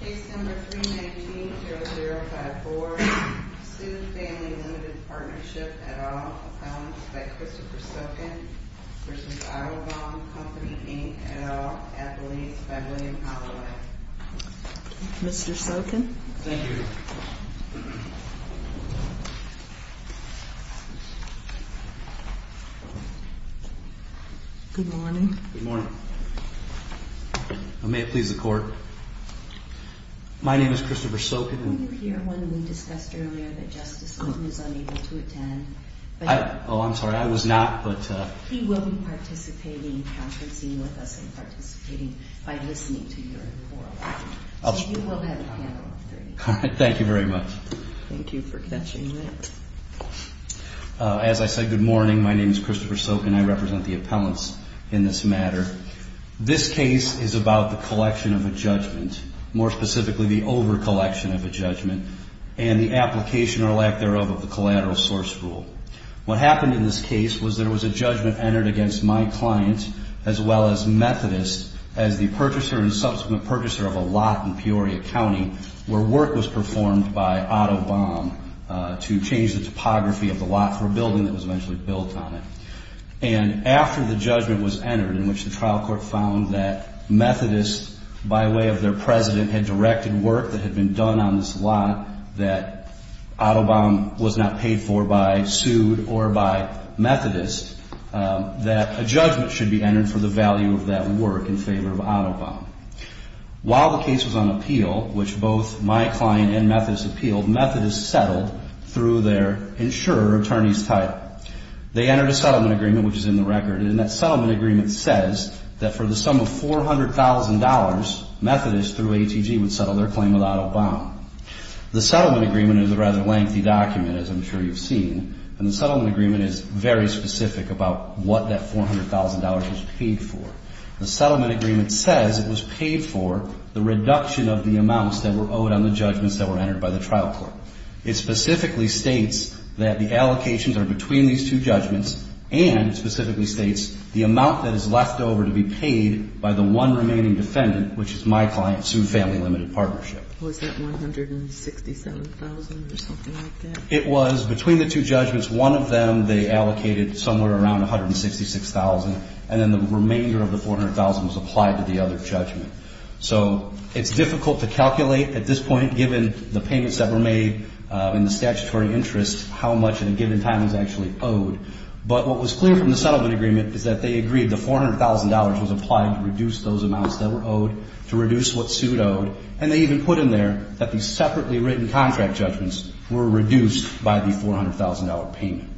Case number 319-0054, Sue's Family Limited Partnership et al. Accounts by Christopher Sokin v. Otto Baum Company, Inc. et al. Appellees by William Holloway. Mr. Sokin? Thank you. Good morning. Good morning. May it please the court. My name is Christopher Sokin. Were you here when we discussed earlier that Justice Linton is unable to attend? Oh, I'm sorry. I was not, but... He will be participating, conferencing with us and participating by listening to your report. So you will have a panel of three. Thank you very much. Thank you for catching that. As I said, good morning. My name is Christopher Sokin. I represent the appellants in this matter. This case is about the collection of a judgment. More specifically, the overcollection of a judgment and the application or lack thereof of the collateral source rule. What happened in this case was there was a judgment entered against my client, as well as Methodist, as the purchaser and subsequent purchaser of a lot in Peoria County, where work was performed by Otto Baum to change the topography of the lot for a building that was eventually built on it. And after the judgment was entered, in which the trial court found that Methodist, by way of their president, had directed work that had been done on this lot, that Otto Baum was not paid for by sued or by Methodist, that a judgment should be entered for the value of that work in favor of Otto Baum. While the case was on appeal, which both my client and Methodist appealed, Methodist settled through their insurer attorney's title. They entered a settlement agreement, which is in the record. And that settlement agreement says that for the sum of $400,000, Methodist, through ATG, would settle their claim with Otto Baum. The settlement agreement is a rather lengthy document, as I'm sure you've seen. And the settlement agreement is very specific about what that $400,000 was paid for. The settlement agreement says it was paid for the reduction of the amounts that were owed on the judgments that were entered by the trial court. It specifically states that the allocations are between these two judgments and specifically states the amount that is left over to be paid by the one remaining defendant, which is my client, Sued Family Limited Partnership. Was that $167,000 or something like that? It was between the two judgments. One of them, they allocated somewhere around $166,000. And then the remainder of the $400,000 was applied to the other judgment. So it's difficult to calculate at this point, given the payments that were made in the statutory interest, how much in a given time was actually owed. But what was clear from the settlement agreement is that they agreed the $400,000 was applied to reduce those amounts that were owed, to reduce what Sued owed. And they even put in there that these separately written contract judgments were reduced by the $400,000 payment.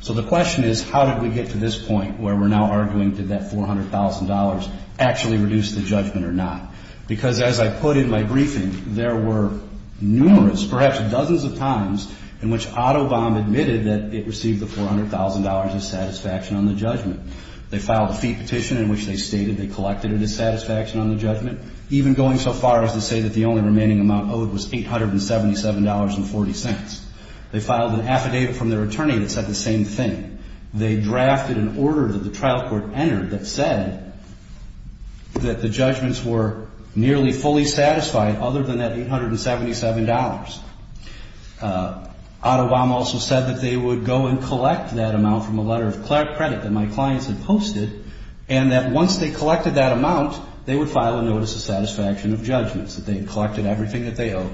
So the question is, how did we get to this point where we're now arguing, did that $400,000 actually reduce the judgment or not? Because as I put in my briefing, there were numerous, perhaps dozens of times, in which AutoBomb admitted that it received the $400,000 as satisfaction on the judgment. They filed a fee petition in which they stated they collected it as satisfaction on the judgment, even going so far as to say that the only remaining amount owed was $877.40. They filed an affidavit from their attorney that said the same thing. They drafted an order that the trial court entered that said that the judgments were nearly fully satisfied, other than that $877. AutoBomb also said that they would go and collect that amount from a letter of credit that my clients had posted, and that once they collected that amount, they would file a notice of satisfaction of judgments, that they had collected everything that they owed.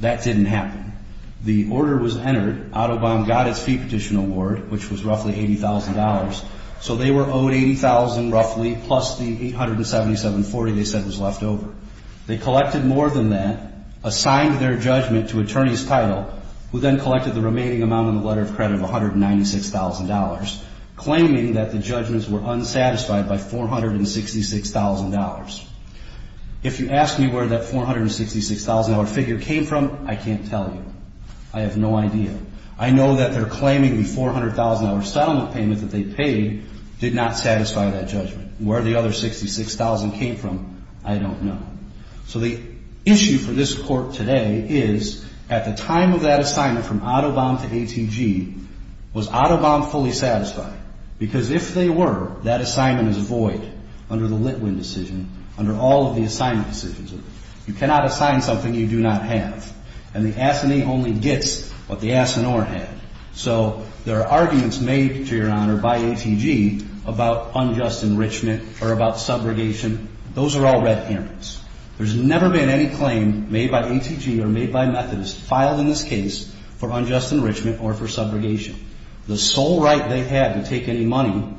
That didn't happen. The order was entered. AutoBomb got its fee petition award, which was roughly $80,000. So they were owed $80,000, roughly, plus the $877.40 they said was left over. They collected more than that, assigned their judgment to attorney's title, who then collected the remaining amount in the letter of credit of $196,000, claiming that the judgments were unsatisfied by $466,000. If you ask me where that $466,000 figure came from, I can't tell you. I have no idea. I know that they're claiming the $400,000 settlement payment that they paid did not satisfy that judgment. Where the other $66,000 came from, I don't know. So the issue for this court today is, at the time of that assignment from AutoBomb to ATG, was AutoBomb fully satisfied? Because if they were, that assignment is void under the Litwin decision, under all of the assignment decisions. You cannot assign something you do not have. And the S&A only gets what the S&R had. So there are arguments made, to your honor, by ATG about unjust enrichment or about subrogation. Those are all red herrings. There's never been any claim made by ATG or made by Methodist filed in this case for unjust enrichment or for subrogation. The sole right they had to take any money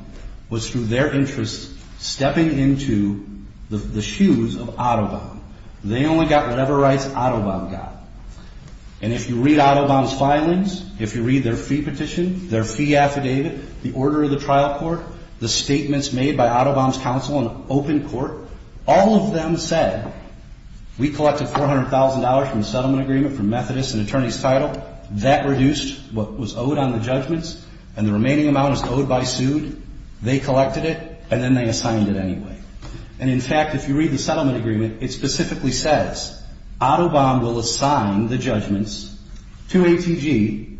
was through their interests stepping into the shoes of AutoBomb. They only got whatever rights AutoBomb got. And if you read AutoBomb's filings, if you read their fee petition, their fee affidavit, the order of the trial court, the statements made by AutoBomb's counsel in open court, all of them said, We collected $400,000 from the settlement agreement for Methodist and attorney's title. That reduced what was owed on the judgments, and the remaining amount is owed by sued. They collected it, and then they assigned it anyway. And in fact, if you read the settlement agreement, it specifically says, AutoBomb will assign the judgments to ATG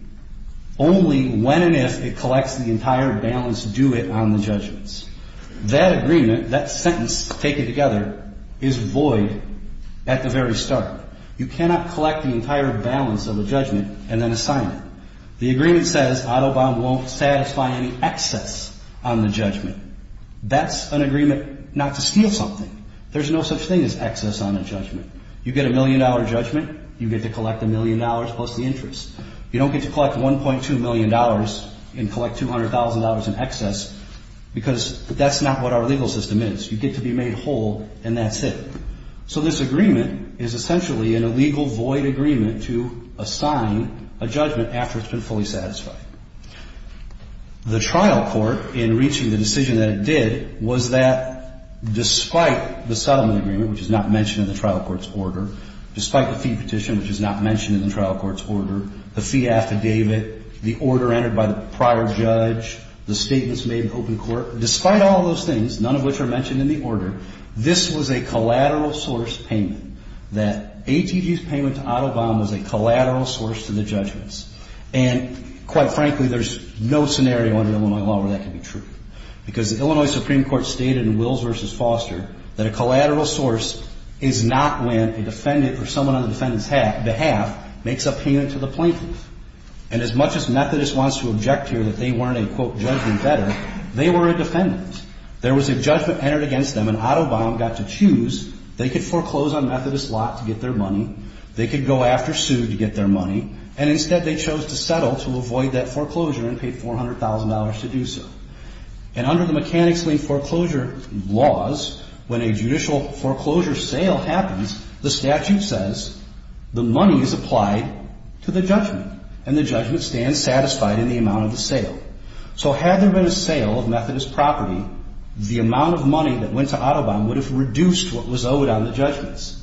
only when and if it collects the entire balance due it on the judgments. That agreement, that sentence taken together, is void at the very start. You cannot collect the entire balance of the judgment and then assign it. The agreement says AutoBomb won't satisfy any excess on the judgment. That's an agreement not to steal something. There's no such thing as excess on a judgment. You get a million dollar judgment, you get to collect a million dollars plus the interest. You don't get to collect $1.2 million and collect $200,000 in excess because that's not what our legal system is. You get to be made whole, and that's it. So this agreement is essentially an illegal void agreement to assign a judgment after it's been fully satisfied. The trial court, in reaching the decision that it did, was that despite the settlement agreement, which is not mentioned in the trial court's order, despite the fee petition, which is not mentioned in the trial court's order, the fee affidavit, the order entered by the prior judge, the statements made in open court, despite all those things, none of which are mentioned in the order, this was a collateral source payment, that ATG's payment to AutoBomb was a collateral source to the judgments. And quite frankly, there's no scenario under Illinois law where that can be true. Because the Illinois Supreme Court stated in Wills v. Foster that a collateral source is not when a defendant or someone on the defendant's behalf makes a payment to the plaintiff. And as much as Methodist wants to object here that they weren't a, quote, judgment better, they were a defendant. There was a judgment entered against them, and AutoBomb got to choose. They could foreclose on Methodist's lot to get their money. They could go after Sue to get their money. And instead, they chose to settle to avoid that foreclosure and pay $400,000 to do so. And under the Mechanics' Link foreclosure laws, when a judicial foreclosure sale happens, the statute says the money is applied to the judgment, and the judgment stands satisfied in the amount of the sale. So had there been a sale of Methodist property, the amount of money that went to AutoBomb would have reduced what was owed on the judgments.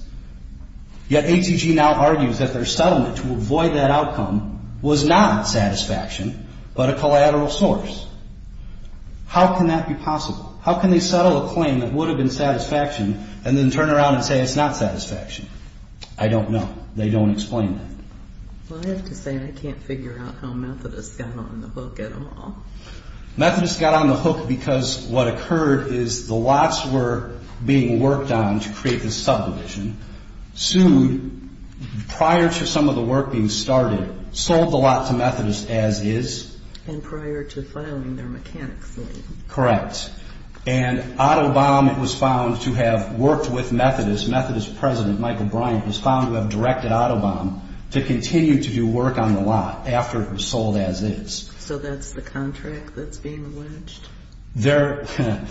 Yet ATG now argues that their settlement to avoid that outcome was not satisfaction but a collateral source. How can that be possible? How can they settle a claim that would have been satisfaction and then turn around and say it's not satisfaction? I don't know. They don't explain that. Well, I have to say I can't figure out how Methodist got on the hook at all. Methodist got on the hook because what occurred is the lots were being worked on to create this subdivision. Sue, prior to some of the work being started, sold the lot to Methodist as is. And prior to filing their Mechanics' Link. Correct. And AutoBomb was found to have worked with Methodist. Methodist President Michael Bryant was found to have directed AutoBomb to continue to do work on the lot after it was sold as is. So that's the contract that's being alleged? There were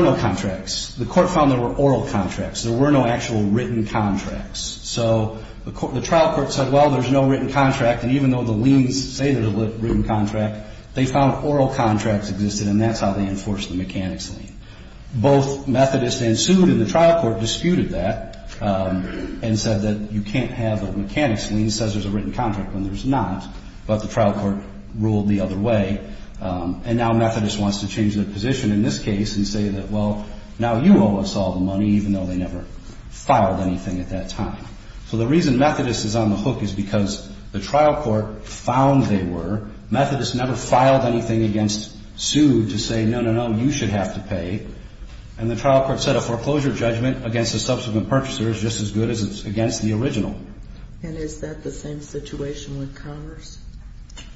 no contracts. The Court found there were oral contracts. There were no actual written contracts. So the trial court said, well, there's no written contract. And even though the liens say there's a written contract, they found oral contracts existed, and that's how they enforced the Mechanics' Link. Both Methodist and Sue in the trial court disputed that and said that you can't have a Mechanics' Link that says there's a written contract when there's not. But the trial court ruled the other way. And now Methodist wants to change their position in this case and say that, well, now you owe us all the money, even though they never filed anything at that time. So the reason Methodist is on the hook is because the trial court found they were. Methodist never filed anything against Sue to say, no, no, no, you should have to pay. And the trial court set a foreclosure judgment against the subsequent purchasers just as good as it's against the original. And is that the same situation with Congress?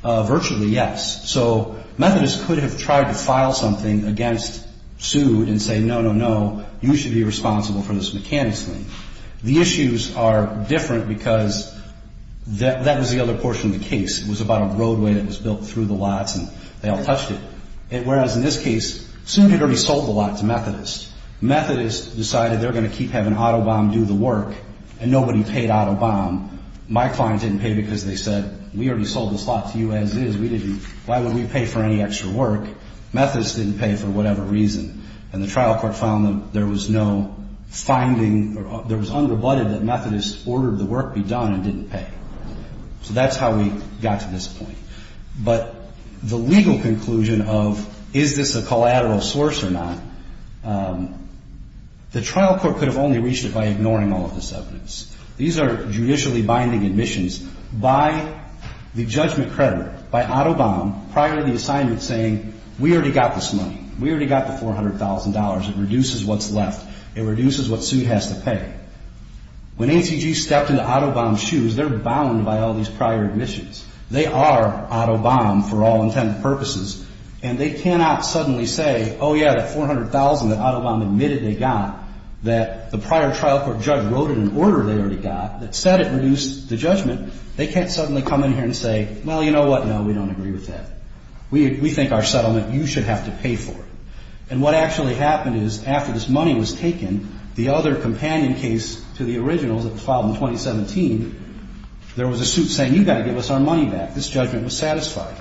Virtually, yes. So Methodist could have tried to file something against Sue and say, no, no, no, you should be responsible for this Mechanics' Link. The issues are different because that was the other portion of the case. It was about a roadway that was built through the lots, and they all touched it. Whereas in this case, Sue had already sold the lot to Methodist. Methodist decided they're going to keep having Autobahn do the work, and nobody paid Autobahn. My client didn't pay because they said, we already sold this lot to you as is. We didn't. Why would we pay for any extra work? Methodist didn't pay for whatever reason. And the trial court found that there was no finding. There was under-blooded that Methodist ordered the work be done and didn't pay. So that's how we got to this point. But the legal conclusion of is this a collateral source or not, the trial court could have only reached it by ignoring all of this evidence. These are judicially binding admissions by the judgment creditor, by Autobahn, prior to the assignment saying, we already got this money. We already got the $400,000. It reduces what's left. It reduces what Sue has to pay. When ATG stepped into Autobahn's shoes, they're bound by all these prior admissions. They are Autobahn for all intended purposes. And they cannot suddenly say, oh, yeah, the $400,000 that Autobahn admitted they got that the prior trial court judge wrote in an order they already got that said it reduced the judgment. They can't suddenly come in here and say, well, you know what? No, we don't agree with that. We think our settlement, you should have to pay for it. And what actually happened is, after this money was taken, the other companion case to the original that was filed in 2017, there was a suit saying, you've got to give us our money back. This judgment was satisfied.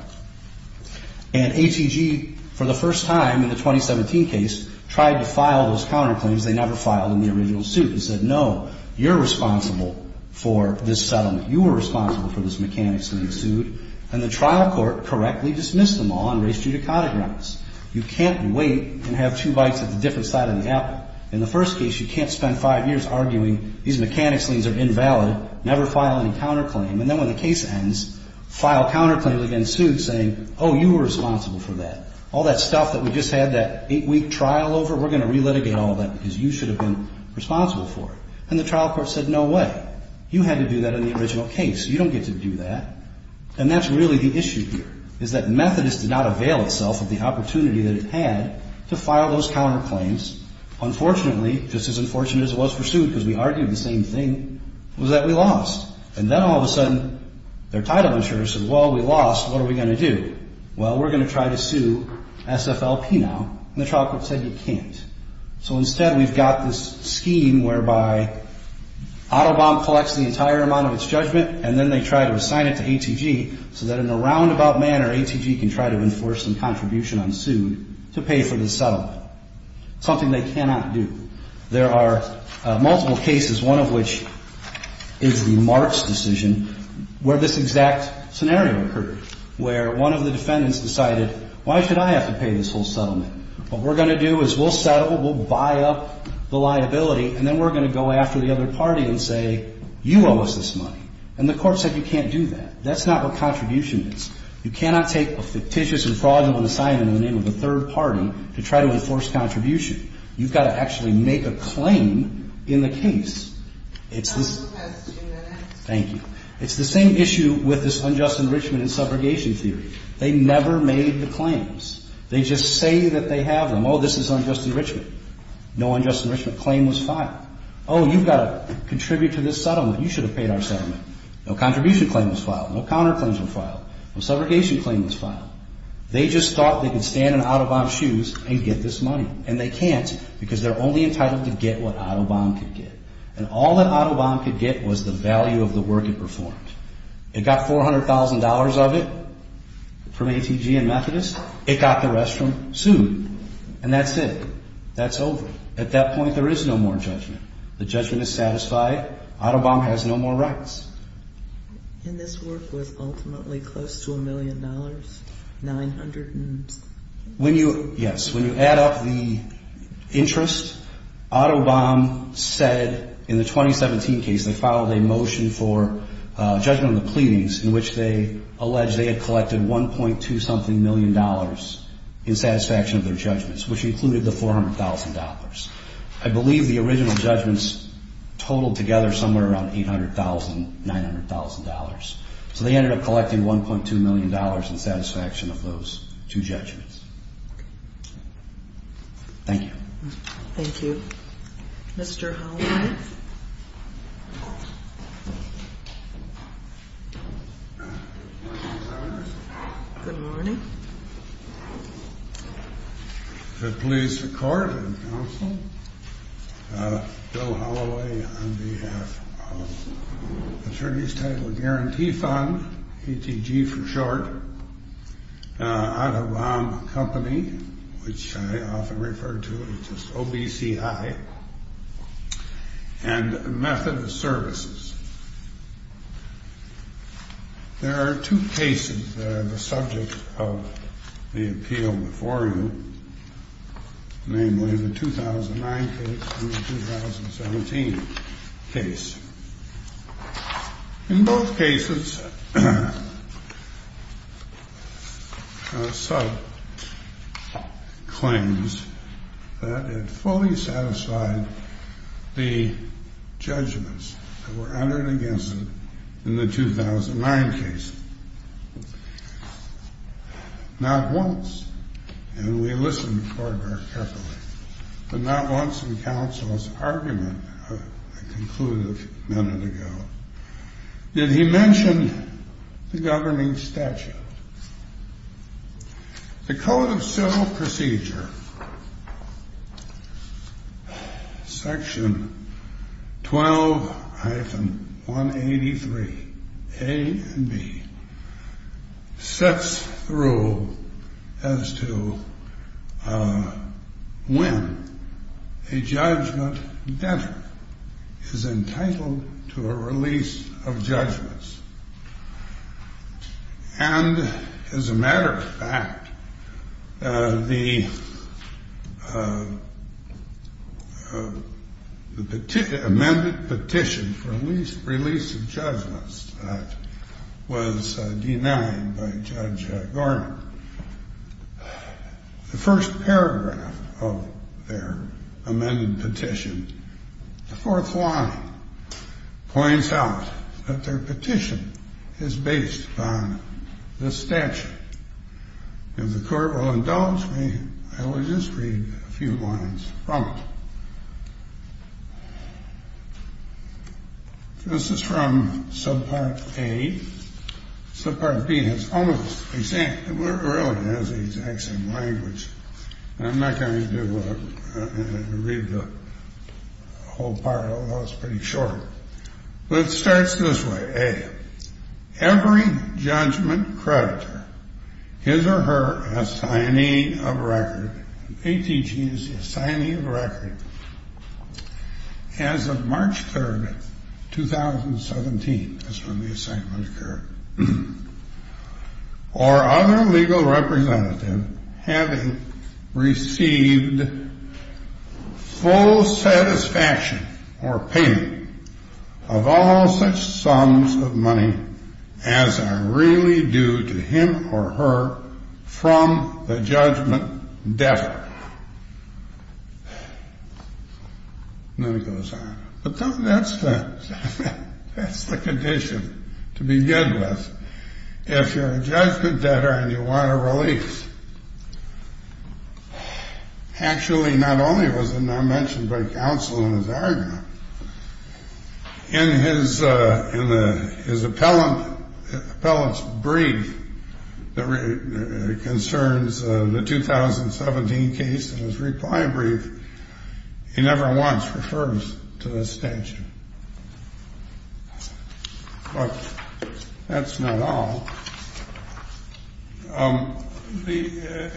And ATG, for the first time in the 2017 case, tried to file those counterclaims they never filed in the original suit and said, no, you're responsible for this settlement. You were responsible for this mechanics lien suit. And the trial court correctly dismissed them all and raised judicata grounds. You can't wait and have two bites at the different side of the apple. In the first case, you can't spend five years arguing these mechanics liens are invalid. Never file any counterclaim. And then when the case ends, file counterclaims against suits saying, oh, you were responsible for that. All that stuff that we just had that eight-week trial over, we're going to relitigate all that because you should have been responsible for it. And the trial court said, no way. You had to do that in the original case. You don't get to do that. And that's really the issue here, is that Methodist did not avail itself of the opportunity that it had to file those counterclaims. Unfortunately, just as unfortunate as it was for suit, because we argued the same thing, was that we lost. And then all of a sudden, their title insurer said, well, we lost. What are we going to do? Well, we're going to try to sue SFLP now. And the trial court said, you can't. So instead, we've got this scheme whereby AutoBomb collects the entire amount of its judgment and then they try to assign it to ATG so that in a roundabout manner, ATG can try to enforce some contribution on suit to pay for the settlement. Something they cannot do. There are multiple cases, one of which is the Marks decision, where this exact scenario occurred, where one of the defendants decided, why should I have to pay this whole settlement? What we're going to do is we'll settle, we'll buy up the liability, and then we're going to go after the other party and say, you owe us this money. And the court said, you can't do that. That's not what contribution is. You cannot take a fictitious and fraudulent assignment in the name of a third party to try to enforce contribution. You've got to actually make a claim in the case. It's this... Thank you. It's the same issue with this unjust enrichment and subrogation theory. They never made the claims. They just say that they have them. Oh, this is unjust enrichment. No unjust enrichment claim was filed. Oh, you've got to contribute to this settlement. You should have paid our settlement. No contribution claim was filed. No counterclaims were filed. No subrogation claim was filed. They just thought they could stand in Audubon's shoes and get this money. And they can't because they're only entitled to get what Audubon could get. And all that Audubon could get was the value of the work it performed. It got $400,000 of it from ATG and Methodist. It got the rest from sued. And that's it. That's over. At that point, there is no more judgment. The judgment is satisfied. Audubon has no more rights. And this work was ultimately close to a million dollars. 900 and... Yes, when you add up the interest, Audubon said in the 2017 case, they filed a motion for judgment of the pleadings in which they alleged they had collected 1.2 something million dollars in satisfaction of their judgments which included the $400,000. I believe the original judgments totaled together somewhere around $800,000, $900,000. So they ended up collecting $1.2 million in satisfaction of those two judgments. Thank you. Thank you. Mr. Holloway? Good morning. The police court and counsel Bill Holloway on behalf of Attorney's Title Guarantee Fund ATG for short Audubon Company which I often refer to as OBCI and Methodist Services There are two cases that are the subject of the appeal before you namely the 2009 case and the 2017 case. In both cases a sub claims that it fully satisfied the judgments that were entered against it in the 2009 case. Not once and we listened very carefully but not once in counsel's argument a conclusive minute ago that he mentioned the governing statute. The Code of Civil Procedure Section 12-183 A and B sets the rule as to when a judgment debtor is entitled to a release of judgments and as a matter of fact the amended petition for release of judgments was denied by Judge Garner The first paragraph of their amended petition the fourth line points out that their petition is based on this statute If the court will indulge me I will just read a few lines from it This is from Subpart A Subpart B has almost exactly the same language I'm not going to read the whole part although it's pretty short but it starts this way A Every judgment creditor his or her assigning of record ATG is the assigning of record as of March 3rd 2017 that's when the assignment occurred or other legal representative having received full satisfaction or payment of all such sums of money as are really due to him or her from the judgment debtor and then it goes on but that's the that's the condition to begin with if you're a judgment debtor and you want a relief actually not only was it not mentioned by counsel in his argument in his appellant appellant's brief that concerns the 2017 case and his reply brief he never once refers to this statute but that's not all the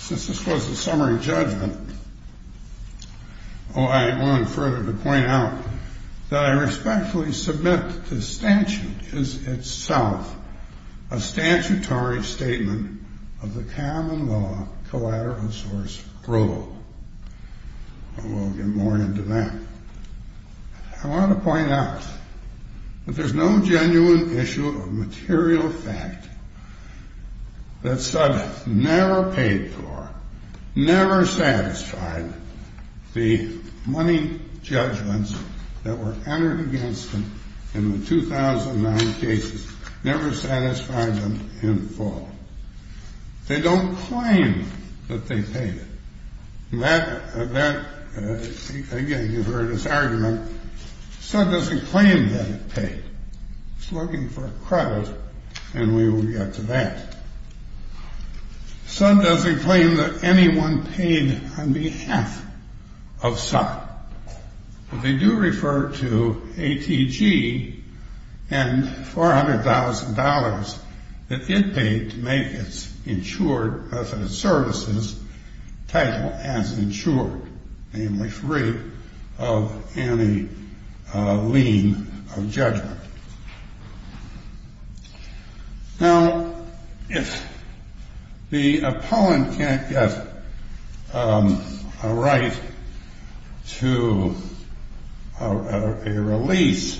since this was a summary judgment oh I won't further to point out that I respectfully submit the statute is itself a statutory statement of the common law collateral source rule and we'll get more into that I want to point out that there's no genuine issue of material fact that said never paid for never satisfied the money judgments that were entered against him in the 2009 cases never satisfied them in full they don't claim that they paid that again you've heard his argument Sud doesn't claim that it paid he's looking for credit and we will get to that Sud doesn't claim that anyone paid on behalf of Sud but they do refer to ATG and $400,000 that it paid to make its insured method of services title as insured namely free of any lien of judgment now if the opponent can't get a right to a release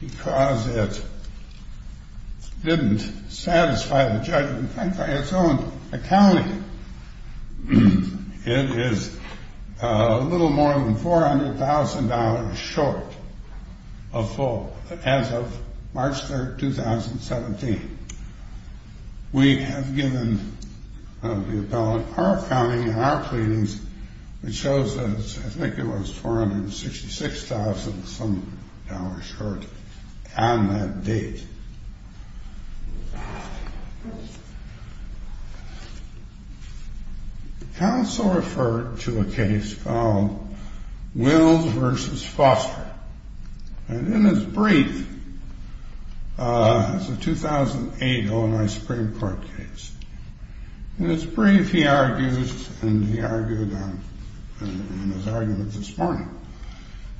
because it didn't satisfy the judgment by its own accounting it is a little more than $400,000 short of full as of March 3rd, 2017 we have given the appellant our accounting and our pleadings which shows that I think it was $466,000 some dollars short on that date counsel referred to a case called Wills vs. Foster and in his brief it was a 2008 O.N.I. Supreme Court case in his brief he argued and he argued in his argument this morning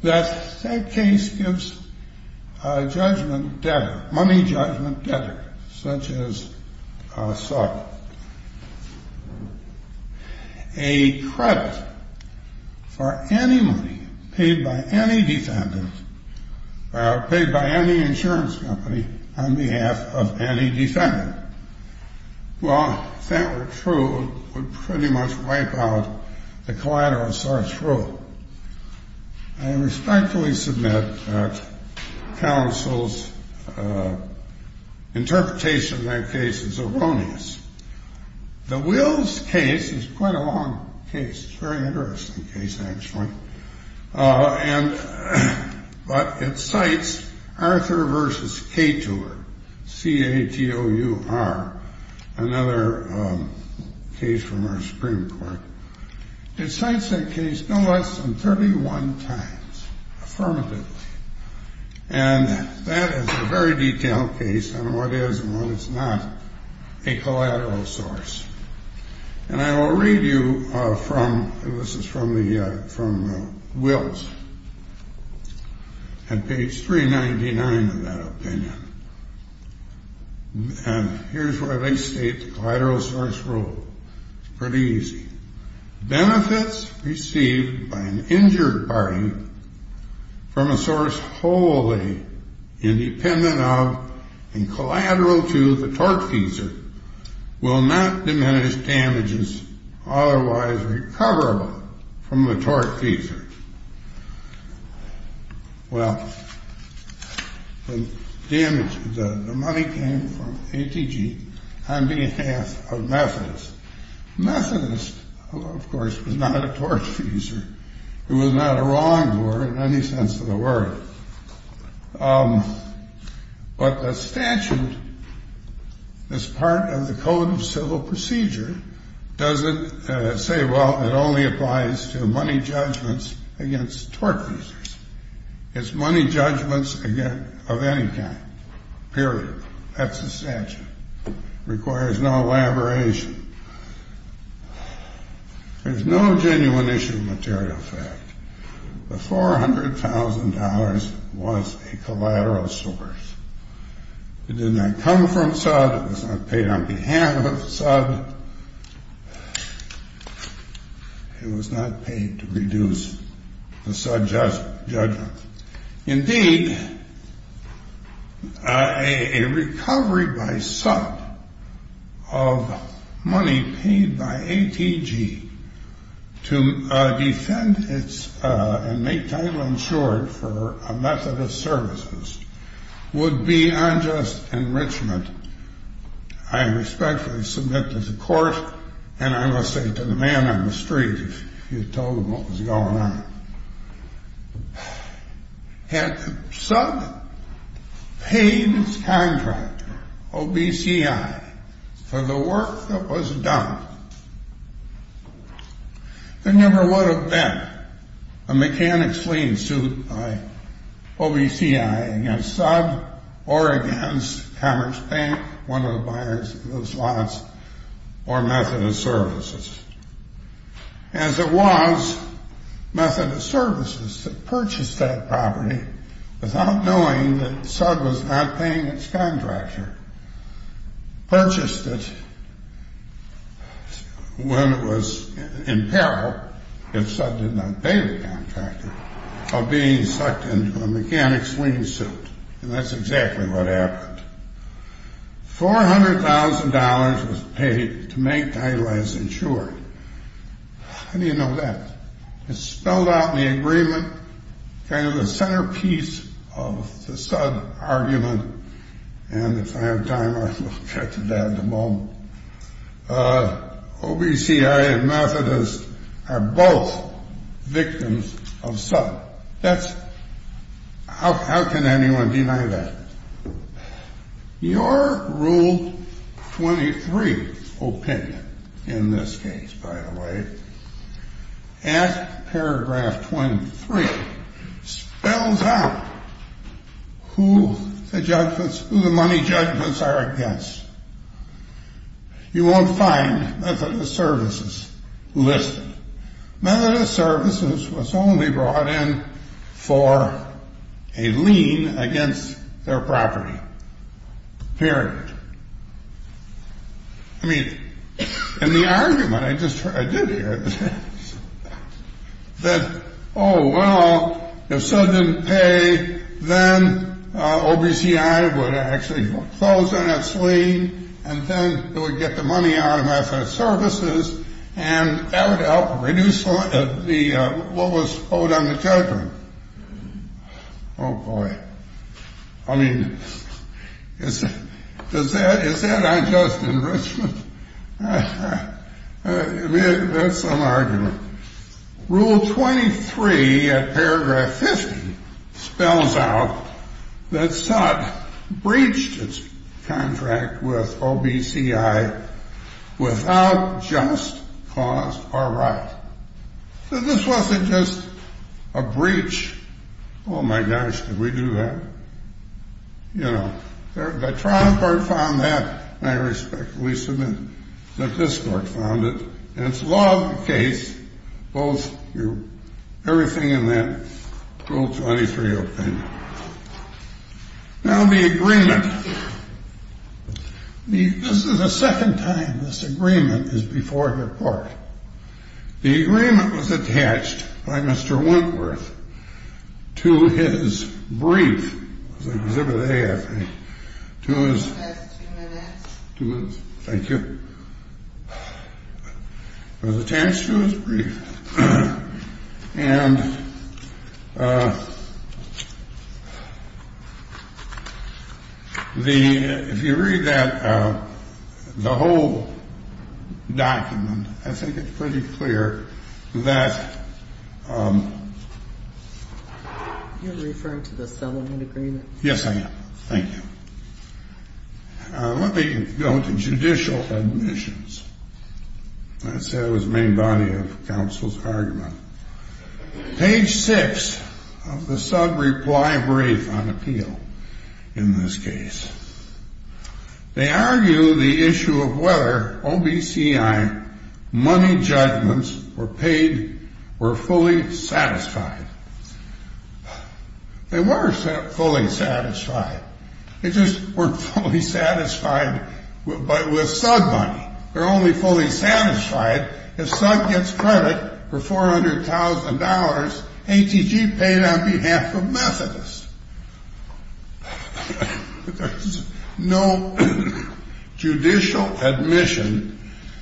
that that case gives a judgment debtor, money judgment debtor such as Salk a credit for any money paid by any defendant paid by any insurance company on behalf of any defendant well if that were true it would pretty much wipe out the collateral source rule I respectfully submit that counsel's interpretation of that case is erroneous the Wills case is quite a long case, very interesting case actually and it cites Arthur vs. Kator C-A-T-O-U-R another case from our Supreme Court it cites that case no less than 31 times affirmatively and that is a very detailed case on what is and what is not a collateral source and I will read you from this is from the Wills on page 399 of that opinion and here's where they state the collateral source rule pretty easy benefits received by an injured party from a source wholly independent of and collateral to the tortfeasor will not diminish damages otherwise recoverable from the tortfeasor well the damage the money came from ATG on behalf of Methodist Methodist who of course was not a tortfeasor who was not a wrongdoer in any sense of the word um but the statute as part of the code of civil procedure doesn't say well it only applies to money judgments against tortfeasors it's money judgments of any kind period, that's the statute requires no elaboration there's no genuine issue of material fact the $400,000 was a collateral source it did not come from SUD, it was not paid on behalf of SUD it was not paid to reduce the SUD judgment indeed a recovery by SUD of money paid by ATG to defend and make title insured for a Methodist services would be unjust enrichment I respectfully submit to the court and I must say to the man on the street if you told him what was going on had SUD paid its contractor OBCI for the work that was done there never would have been a mechanics lien suit by OBCI against SUD or against Commerce Bank one of the buyers of those lots or Methodist Services as it was Methodist Services that purchased that property without knowing that SUD was not paying its contractor purchased it when it was in peril if SUD did not pay the contractor of being sucked into a mechanics lien suit and that's exactly what happened $400,000 was paid to make title as insured how do you know that? it's spelled out in the agreement kind of the centerpiece of the SUD argument and if I have time I will get to that in a moment OBCI and Methodist are both victims of SUD how can anyone deny that? your rule 23 opinion in this case by the way at paragraph 23 spells out who the money judgments are against you won't find Methodist Services listed Methodist Services was only brought in for a lien against their property period I mean in the argument I did hear that oh well if SUD didn't pay then OBCI would actually close on its lien and then it would get the money out of Methodist Services and that would help reduce what was owed on the children oh boy I mean is that unjust enrichment? that's some argument rule 23 at paragraph 50 spells out that SUD breached its contract with OBCI without just cause or right so this wasn't just a breach oh my gosh did we do that? you know the trial court found that I respectfully submit that this court found it and it's law of the case both your everything in that rule 23 opinion now the agreement this is the second time this agreement is before the court the agreement was attached by Mr. Wentworth to his brief it was exhibit A I think to his two minutes thank you it was attached to his brief if you read that the whole document I think it's pretty clear that you're referring to the settlement agreement yes I am thank you let me go to judicial admissions that's the main body of counsel's argument page 6 of the SUD reply brief on appeal in this case they argue the issue of whether OBCI money judgments were paid were fully satisfied they were fully satisfied they just weren't fully satisfied with SUD money they're only fully satisfied if SUD gets credit for $400,000 ATG paid on behalf of Methodist there's no judicial admission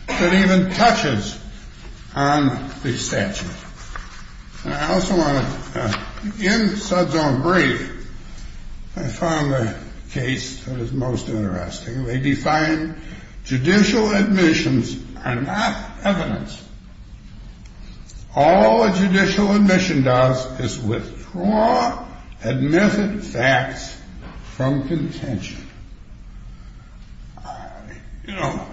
that even touches on the statute I also want to in SUD's own brief I found the case that is most interesting they define judicial admissions are not evidence all a judicial admission does is withdraw admitted facts from contention you know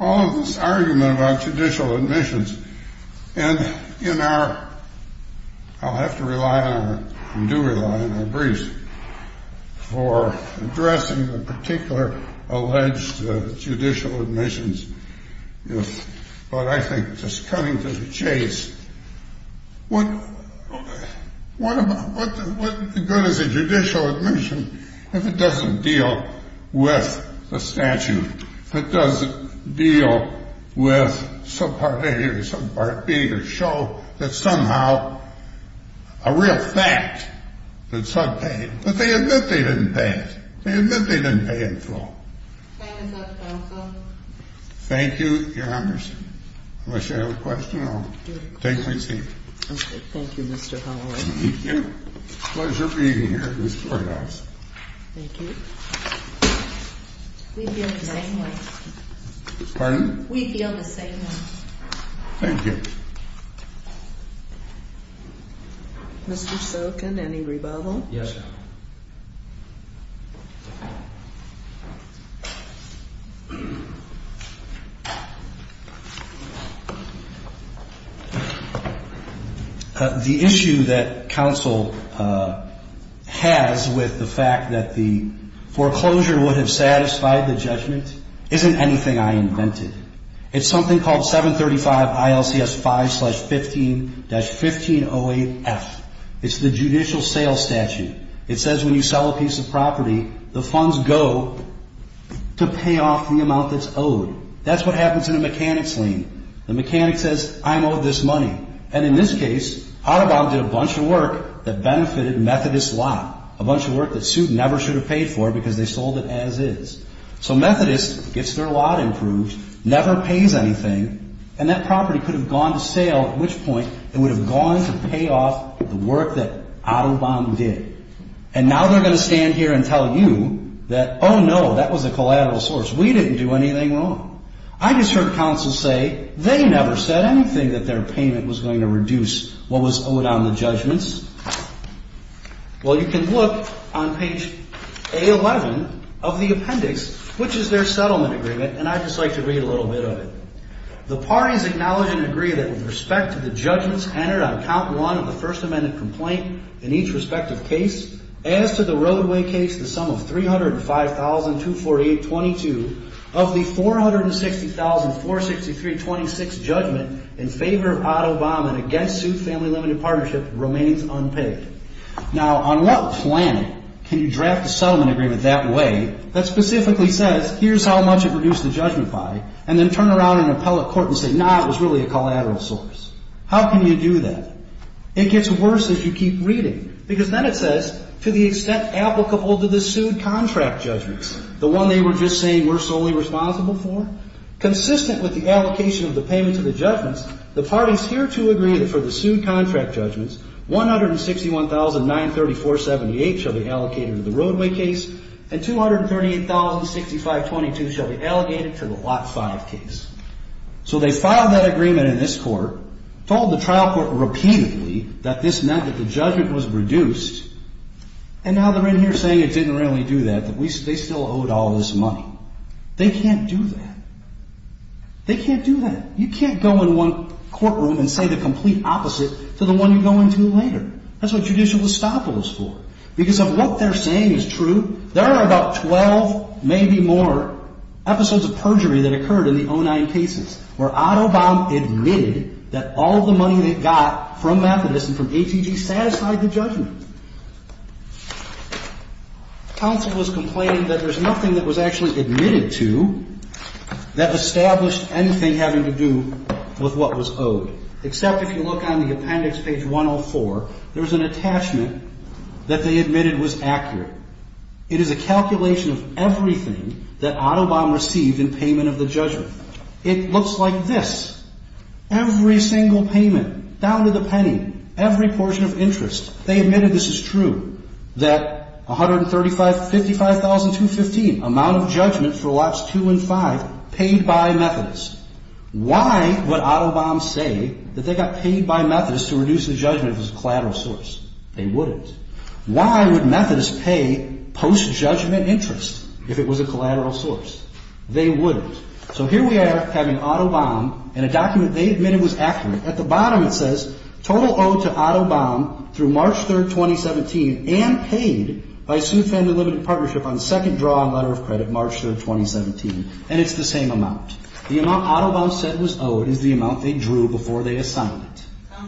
all of this argument about judicial admissions and in our I'll have to rely on and do rely on my brief for addressing the particular alleged judicial admissions but I think just coming to the chase what what is a judicial admission if it doesn't deal with the statute if it doesn't deal with subpart A or subpart B to show that somehow a real fact that SUD paid but they admit they didn't pay it they admit they didn't pay in full thank you your honors unless you have a question I'll take my seat thank you Mr. Holloway pleasure being here in this courthouse thank you we feel the same way pardon? we feel the same way thank you Mr. Sokin any rebuttal the issue that counsel has with the fact that the foreclosure would have satisfied the judgment isn't anything I invented it's something called 735 ILCS 5 slash 15 dash 1508F it's the judicial sales statute it says when you sell a piece of property the funds go to pay off the amount that's owed that's what happens in a mechanics lien the mechanic says I'm owed this money and in this case autobahn did a bunch of work that benefitted Methodist lot a bunch of work that SUD never should have paid for because they sold it as is so Methodist gets their lot improved never pays anything and that property could have gone to sale at which point it would have gone to pay off the work that autobahn did and now they're going to stand here and tell you that oh no that was a collateral source we didn't do anything wrong I just heard counsel say they never said anything that their payment was going to reduce what was owed on the judgments well you can look on page A11 of the appendix which is their settlement agreement and I'd just like to read a little bit of it the parties acknowledge and agree that with respect to the judgments entered on count one of the first amendment complaint in each respective case as to the roadway case the sum of 305,248.22 of the 460,463.26 judgment in favor of autobahn and against SUD family limited partnership remains unpaid now on what planet can you draft a settlement agreement that way that specifically says here's how much it reduced the judgment by and then turn around and appellate court and say nah it was really a collateral source how can you do that it gets worse as you keep reading because then it says to the extent applicable to the SUD contract judgments the one they were just saying we're solely responsible for consistent with the allocation of the payment to the judgments the parties here to agree that for the SUD contract judgments 161,934.78 shall be allocated to the roadway case and 238,065.22 shall be allocated to the lot 5 case so they filed that agreement in this court told the trial court repeatedly that this meant that the judgment was reduced and now they're in here saying they didn't really do that they still owed all this money they can't do that they can't do that you can't go in one courtroom and say the complete opposite to the one you go into later that's what judicial estoppel is for because of what they're saying is true there are about 12 maybe more episodes of perjury that occurred in the 09 cases where Otto Baum admitted that all the money they got from Methodist and from ATG satisfied the judgment counsel was complaining that there's nothing that was actually admitted to that established anything having to do with what was owed except if you look on the appendix page 104, there's an attachment that they admitted was accurate, it is a calculation of everything that Otto Baum received in payment of the judgment it looks like this every single payment down to the penny, every portion of interest, they admitted this is true that $155,215 amount of judgment for lots 2 and 5 paid by Methodist why would Otto Baum say that they got paid by Methodist to reduce the judgment if it was a collateral source they wouldn't why would Methodist pay post judgment interest if it was a collateral source they wouldn't so here we are having Otto Baum and a document they admitted was accurate at the bottom it says total owed to Otto Baum through March 3rd, 2017 and paid by SuedFam Delimited Partnership on second draw on letter of credit March 3rd, 2017 and it's the same amount the amount Otto Baum said was owed is the amount they drew before they assigned it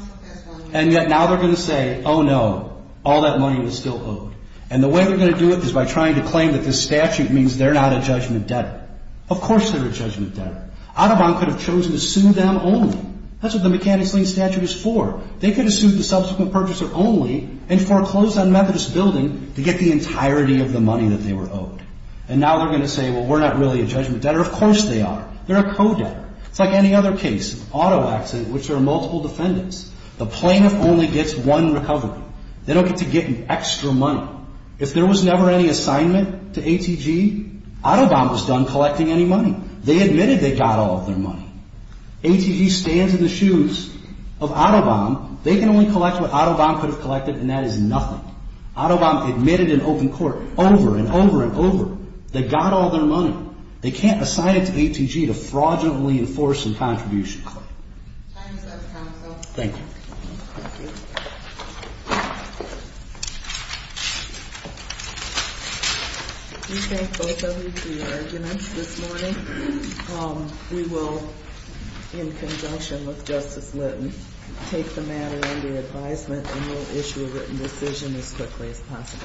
and yet now they're going to say oh no, all that money was still owed and the way they're going to do it is by trying to claim that this statute means they're not a judgment debtor of course they're a judgment debtor Otto Baum could have chosen to sue them only that's what the mechanic's lien statute is for they could have sued the subsequent purchaser only and foreclosed on Methodist building to get the entirety of the money that they were owed and now they're going to say well we're not really a judgment debtor of course they are, they're a co-debtor it's like any other case, auto accident which there are multiple defendants the plaintiff only gets one recovery they don't get to get an extra money if there was never any assignment to ATG Otto Baum was done collecting any money they admitted they got all of their money ATG stands in the shoes of Otto Baum they can only collect what Otto Baum could have collected and that is nothing Otto Baum admitted in open court over and over and over they got all their money they can't assign it to ATG to fraudulently enforce a contribution time is up counsel thank you we thank both of you for your arguments this morning we will in conjunction with Justice Litton take the matter under advisement and we'll issue a written decision as quickly as possible